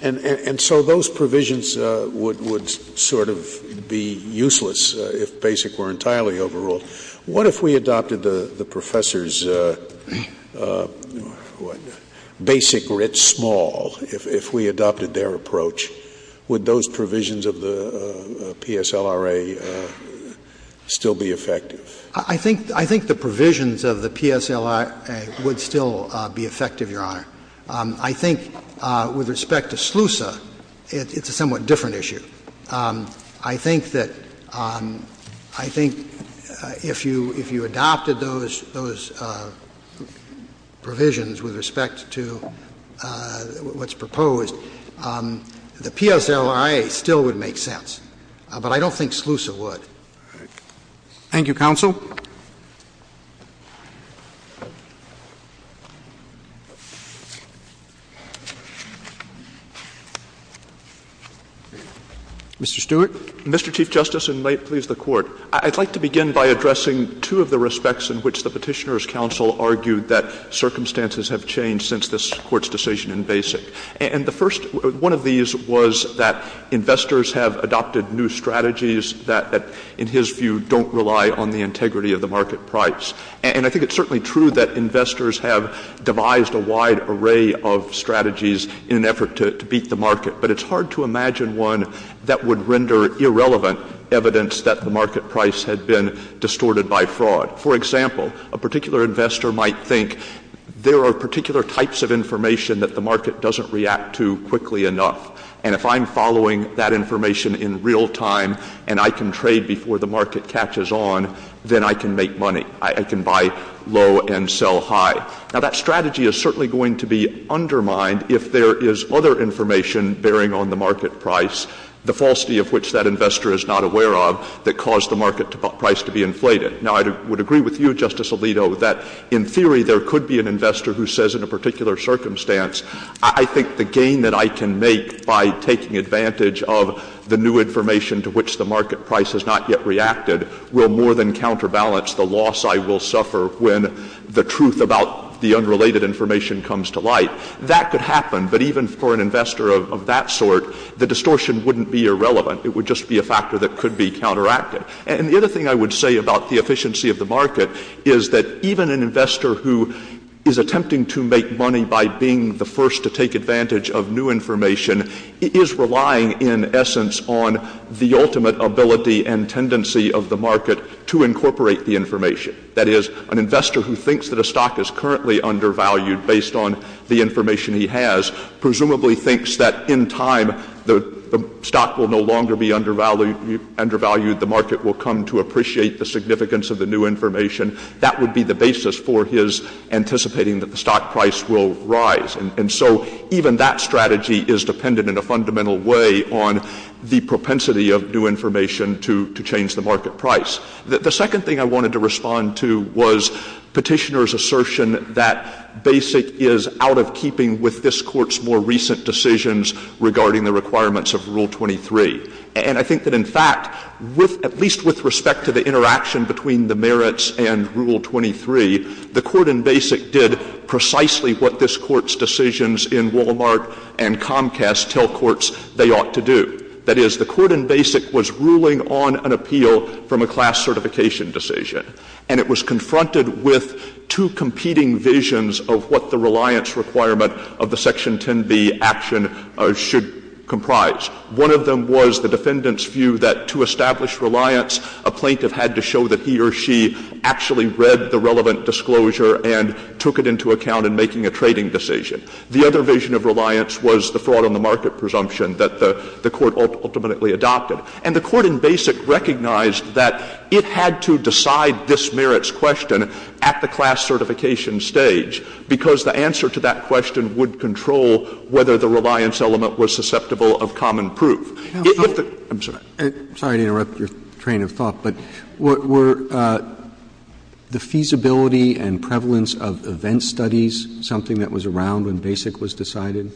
And so those provisions would sort of be useless if BASIC were entirely overruled. What if we adopted the Professor's, what, BASIC writ small, if we adopted their approach, would those provisions of the PSLRA still be effective? I think the provisions of the PSLRA would still be effective, Your Honor. I think with respect to SLUSA, it's a somewhat different issue. I think that, I think if you, if you adopted those, those provisions with respect to what's proposed, the PSLRA still would make sense. But I don't think SLUSA would. Thank you, Counsel. Mr. Stewart. Mr. Chief Justice, and may it please the Court, I'd like to begin by addressing two of the respects in which the Petitioner's counsel argued that circumstances have changed since this Court's decision in BASIC. And the first, one of these was that investors have adopted new strategies that, in his view, don't rely on the integrity of the market price. And I think it's certainly true that investors have devised a wide array of strategies in an effort to beat the market, but it's hard to imagine one that would render irrelevant evidence that the market price had been distorted by fraud. For example, a particular investor might think there are particular types of information that the market doesn't react to quickly enough. And if I'm following that information in real time, and I can trade before the market catches on, then I can make money. I can buy low and sell high. Now, that strategy is certainly going to be undermined if there is other information bearing on the market price, the falsity of which that investor is not aware of, that caused the market price to be inflated. Now, I would agree with you, Justice Alito, that in theory there could be an investor who says in a particular circumstance, I think the gain that I can make by taking advantage of the new information to which the market price has not yet reacted, will more than counterbalance the loss I will suffer when the truth about the unrelated information comes to light. That could happen, but even for an investor of that sort, the distortion wouldn't be irrelevant. It would just be a factor that could be counteracted. And the other thing I would say about the efficiency of the market is that even an investor who is attempting to make money by being the first to take advantage of new information, is relying in essence on the ultimate ability and tendency of the market to incorporate the information. That is, an investor who thinks that a stock is currently undervalued based on the information he has, presumably thinks that in time the stock will no longer be undervalued. The market will come to appreciate the significance of the new information. That would be the basis for his anticipating that the stock price will rise. And so even that strategy is dependent in a fundamental way on the propensity of new information to change the market price. The second thing I wanted to respond to was Petitioner's assertion that Basic is out of keeping with this court's more recent decisions regarding the requirements of Rule 23. And I think that in fact, at least with respect to the interaction between the merits and decisions in Walmart and Comcast, tell courts they ought to do. That is, the court in Basic was ruling on an appeal from a class certification decision. And it was confronted with two competing visions of what the reliance requirement of the Section 10b action should comprise. One of them was the defendant's view that to establish reliance, a plaintiff had to show that he or she had made a disclosure and took it into account in making a trading decision. The other vision of reliance was the fraud on the market presumption that the court ultimately adopted. And the court in Basic recognized that it had to decide this merits question at the class certification stage, because the answer to that question would control whether the reliance element was susceptible of common proof. If the — I'm sorry. Roberts. I'm sorry to interrupt your train of thought, but were the feasibility and prevalence of event studies something that was around when Basic was decided?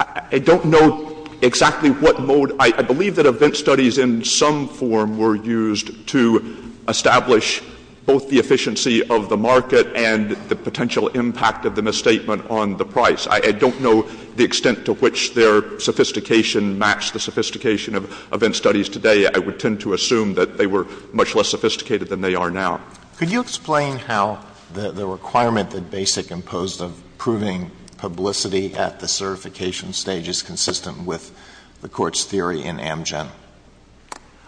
I don't know exactly what mode. I believe that event studies in some form were used to establish both the efficiency of the market and the potential impact of the misstatement on the price. I don't know the extent to which their sophistication matched the sophistication of event studies today. I would tend to assume that they were much less sophisticated than they are now. Could you explain how the requirement that Basic imposed of proving publicity at the certification stage is consistent with the Court's theory in Amgen?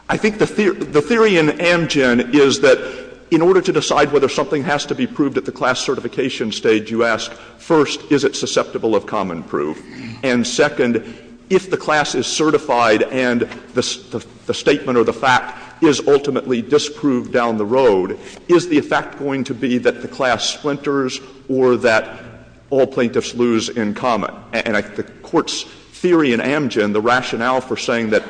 I think the theory in Amgen is that in order to decide whether something has to be proved at the class certification stage, you ask, first, is it susceptible of common proof? And second, if the class is certified and the statement or the fact is ultimately disproved down the road, is the effect going to be that the class splinters or that all plaintiffs lose in common? And I think the Court's theory in Amgen, the rationale for saying that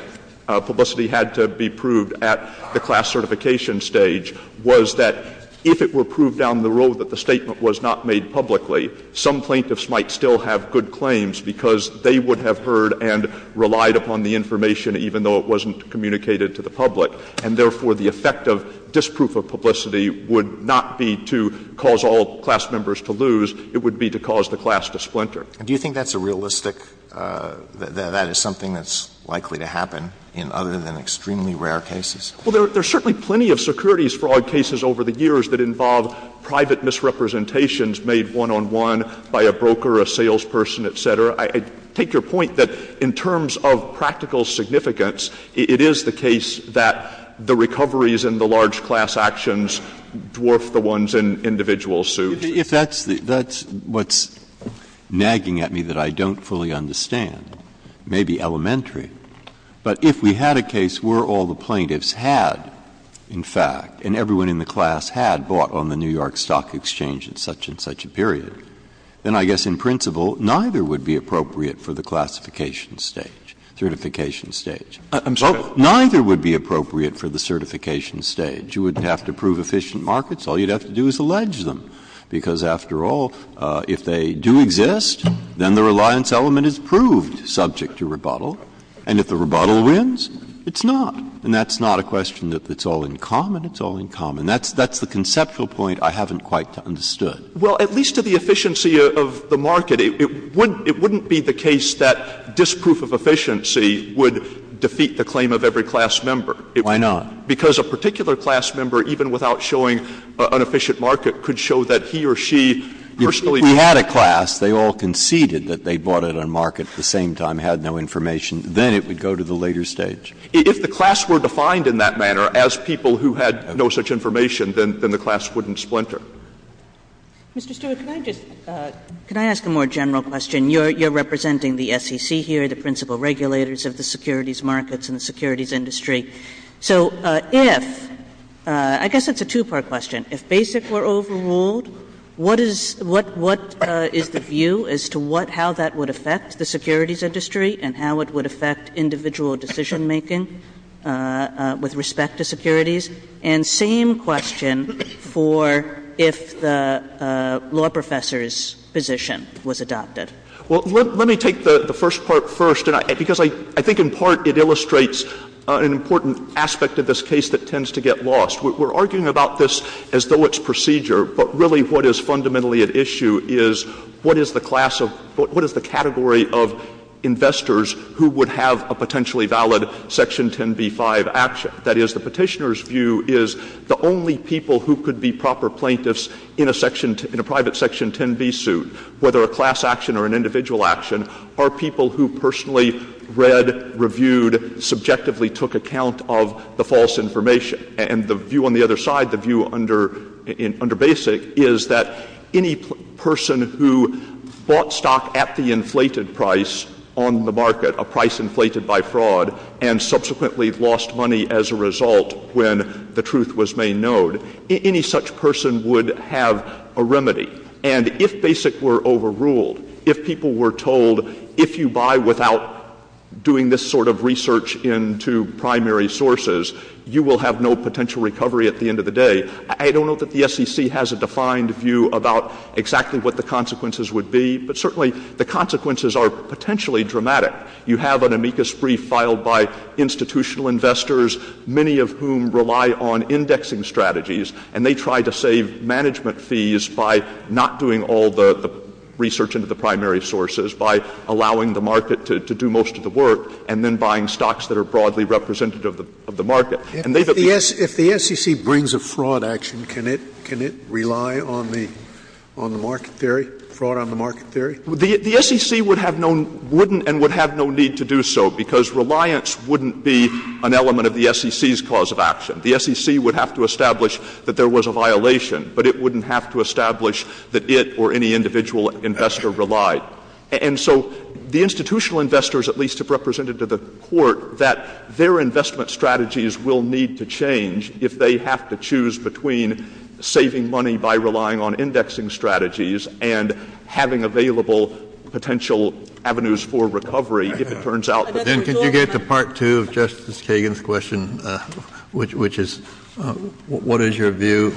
publicity had to be proved at the class certification stage, was that if it were proved down the road that the statement was not made publicly, some plaintiffs might still have good claims because they would have heard and relied upon the information even though it wasn't communicated to the public, and therefore, the effect of disproof of publicity would not be to cause all class members to lose, it would be to cause the class to splinter. Do you think that's a realistic, that that is something that's likely to happen in other than extremely rare cases? Well, there are certainly plenty of securities fraud cases over the years that involve private misrepresentations made one on one by a broker, a salesperson, et cetera. I take your point that in terms of practical significance, it is the case that the recoveries and the large class actions dwarf the ones in individual suits. If that's the — that's what's nagging at me that I don't fully understand, but if we had a case where all the plaintiffs had, in fact, and everyone in the class had bought on the New York Stock Exchange at such-and-such a period, then I guess in principle, neither would be appropriate for the classification stage, certification stage. Neither would be appropriate for the certification stage. You wouldn't have to prove efficient markets, all you'd have to do is allege them. Because, after all, if they do exist, then the reliance element is proved subject to rebuttal, and if the rebuttal wins, it's not. And that's not a question that's all in common. It's all in common. That's the conceptual point I haven't quite understood. Well, at least to the efficiency of the market, it wouldn't be the case that disproof of efficiency would defeat the claim of every class member. Why not? Because a particular class member, even without showing an efficient market, could show that he or she personally. If we had a class, they all conceded that they bought it on market at the same time, had no information, then it would go to the later stage. If the class were defined in that manner as people who had no such information, then the class wouldn't splinter. Mr. Stewart, can I just ask a more general question? You're representing the SEC here, the principal regulators of the securities markets and the securities industry. So if, I guess it's a two-part question, if BASIC were overruled, what is the view as to what, how that would affect the securities industry and how it would affect individual decision-making with respect to securities? And same question for if the law professor's position was adopted. Well, let me take the first part first, because I think in part it illustrates an important aspect of this case that tends to get lost. We're arguing about this as though it's procedure, but really what is fundamentally at issue is what is the class of, what is the category of investors who would have a potentially valid Section 10b-5 action? That is, the Petitioner's view is the only people who could be proper plaintiffs in a section, in a private Section 10b suit, whether a class action or an individual action, are people who personally read, reviewed, subjectively took account of the false information. And the view on the other side, the view under BASIC, is that any person who bought stock at the inflated price on the market, a price inflated by fraud, and subsequently lost money as a result when the truth was made known, any such person would have a remedy. And if BASIC were overruled, if people were told if you buy without doing this sort of research into primary sources, you will have no potential recovery at the end of the day, I don't know that the SEC has a defined view about exactly what the consequences would be, but certainly the consequences are potentially dramatic. You have an amicus brief filed by institutional investors, many of whom rely on indexing strategies, and they try to save management fees by not doing all the research into the primary sources, by allowing the market to do most of the work, and then buying stocks that are broadly representative of the market. And they've appealed to the SEC. Scalia. If the SEC brings a fraud action, can it rely on the market theory, fraud on the market theory? Stewart. The SEC would have no need to do so, because reliance wouldn't be an element of the SEC's cause of action. The SEC would have to establish that there was a violation, but it wouldn't have to establish that it or any individual investor relied. And so the institutional investors at least have represented to the Court that their investment strategies will need to change if they have to choose between saving money by relying on indexing strategies and having available potential avenues I'd like to go back to Part 2 of Justice Kagan's question, which is what is your view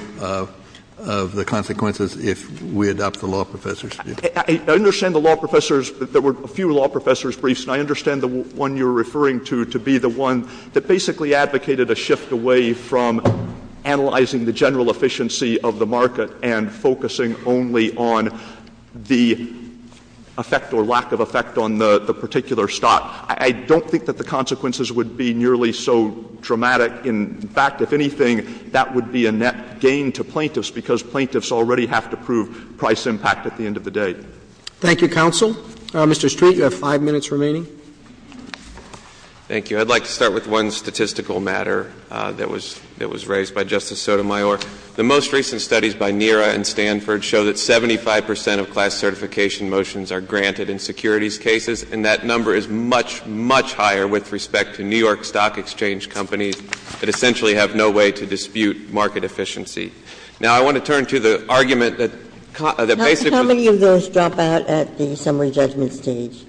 of the consequences if we adopt the law professor's brief? I understand the law professor's — there were a few law professor's briefs, and I understand the one you're referring to to be the one that basically advocated a shift away from analyzing the general efficiency of the market and focusing only on the effect or lack of effect on the particular stock. I don't think that the consequences would be nearly so dramatic. In fact, if anything, that would be a net gain to plaintiffs, because plaintiffs already have to prove price impact at the end of the day. Thank you, counsel. Mr. Street, you have five minutes remaining. Thank you. I'd like to start with one statistical matter that was — that was raised by Justice Sotomayor. The most recent studies by NERA and Stanford show that 75 percent of class certification motions are granted in securities cases, and that number is much, much higher with respect to New York Stock Exchange companies that essentially have no way to dispute market efficiency. Now, I want to turn to the argument that — that basically — How many of those drop out at the summary judgment stage?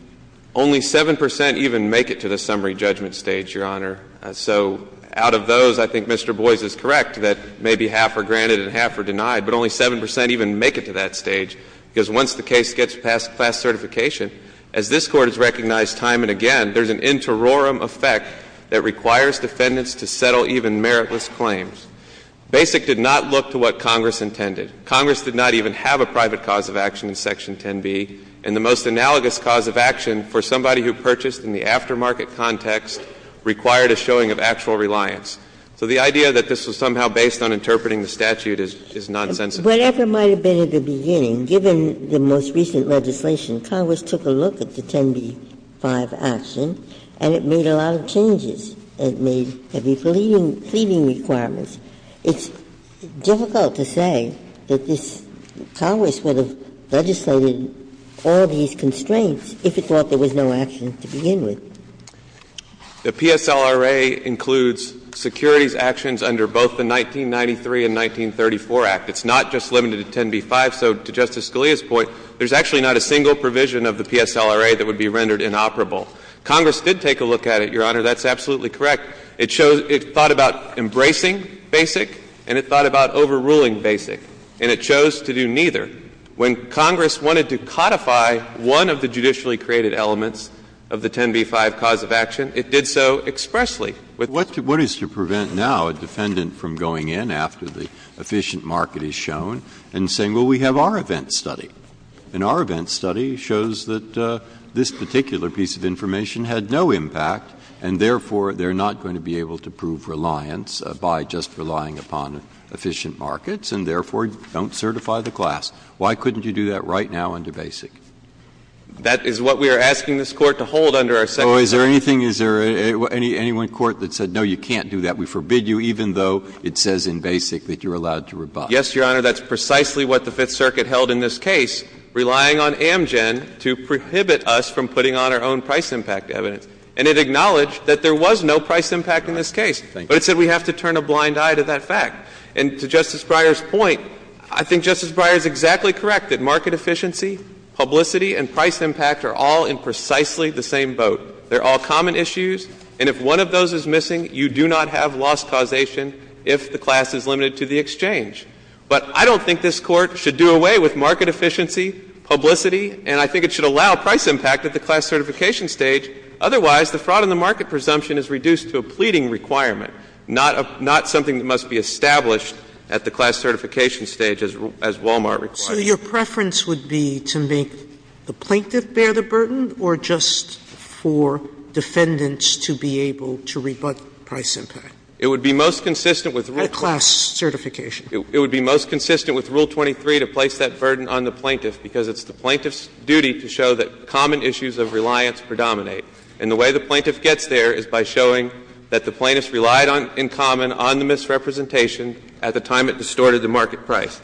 Only 7 percent even make it to the summary judgment stage, Your Honor. So out of those, I think Mr. Boies is correct that maybe half are granted and half are denied, but only 7 percent even make it to that stage, because once the case gets past class certification, as this Court has recognized time and again, there's an interorum effect that requires defendants to settle even meritless claims. BASIC did not look to what Congress intended. Congress did not even have a private cause of action in Section 10b. And the most analogous cause of action for somebody who purchased in the aftermarket context required a showing of actual reliance. So the idea that this was somehow based on interpreting the statute is nonsensical. Whatever might have been at the beginning, given the most recent legislation, Congress took a look at the 10b-5 action, and it made a lot of changes. It made heavy pleading requirements. It's difficult to say that this — Congress would have legislated all these constraints if it thought there was no action to begin with. The PSLRA includes securities actions under both the 1993 and 1934 Act. It's not just limited to 10b-5. So to Justice Scalia's point, there's actually not a single provision of the PSLRA that would be rendered inoperable. Congress did take a look at it, Your Honor. That's absolutely correct. It chose — it thought about embracing BASIC, and it thought about overruling BASIC, and it chose to do neither. When Congress wanted to codify one of the judicially created elements of the 10b-5 cause of action, it did so expressly. Breyer, what is to prevent now a defendant from going in after the efficient market is shown and saying, well, we have our event study, and our event study shows that this particular piece of information had no impact, and therefore, they're not going to be able to prove reliance by just relying upon efficient markets, and therefore, don't certify the class. Why couldn't you do that right now under BASIC? That is what we are asking this Court to hold under our second view. Oh, is there anything — is there any one court that said, no, you can't do that, we forbid you, even though it says in BASIC that you're allowed to rebuff? Yes, Your Honor. That's precisely what the Fifth Circuit held in this case, relying on Amgen to prohibit us from putting on our own price impact evidence. And it acknowledged that there was no price impact in this case. Thank you. But it said we have to turn a blind eye to that fact. And to Justice Breyer's point, I think Justice Breyer is exactly correct that market efficiency, publicity, and price impact are all in precisely the same boat. They're all common issues, and if one of those is missing, you do not have loss causation if the class is limited to the exchange. But I don't think this Court should do away with market efficiency, publicity, and I think it should allow price impact at the class certification stage. Otherwise, the fraud in the market presumption is reduced to a pleading requirement, not something that must be established at the class certification stage as Wal-Mart requires. So your preference would be to make the plaintiff bear the burden, or just for defendants to be able to rebut price impact? It would be most consistent with rule 23 to place that burden on the plaintiff, because it's the plaintiff's duty to show that common issues of reliance predominate. And the way the plaintiff gets there is by showing that the plaintiff relied in common on the misrepresentation at the time it distorted the market price.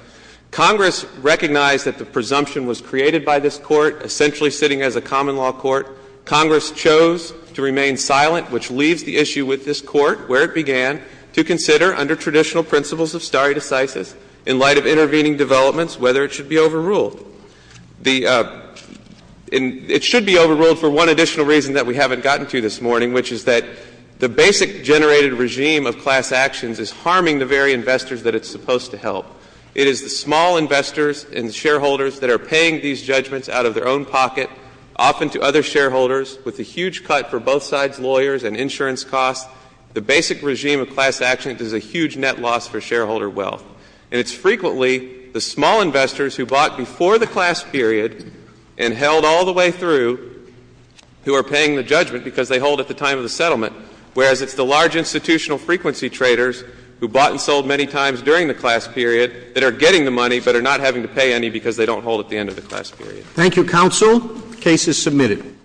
Congress recognized that the presumption was created by this Court, essentially sitting as a common law court. Congress chose to remain silent, which leaves the issue with this Court where it began to consider under traditional principles of stare decisis in light of intervening developments whether it should be overruled. The — it should be overruled for one additional reason that we haven't gotten to this morning, which is that the basic generated regime of class actions is harming the very investors that it's supposed to help. It is the small investors and shareholders that are paying these judgments out of their own pocket, often to other shareholders, with a huge cut for both sides' lawyers and insurance costs. The basic regime of class actions is a huge net loss for shareholder wealth. And it's frequently the small investors who bought before the class period and held all the way through who are paying the judgment because they hold at the time of the settlement, whereas it's the large institutional frequency traders who bought and sold many times during the class period that are getting the money but are not having to pay any because they don't hold at the end of the class period. Thank you, counsel. The case is submitted.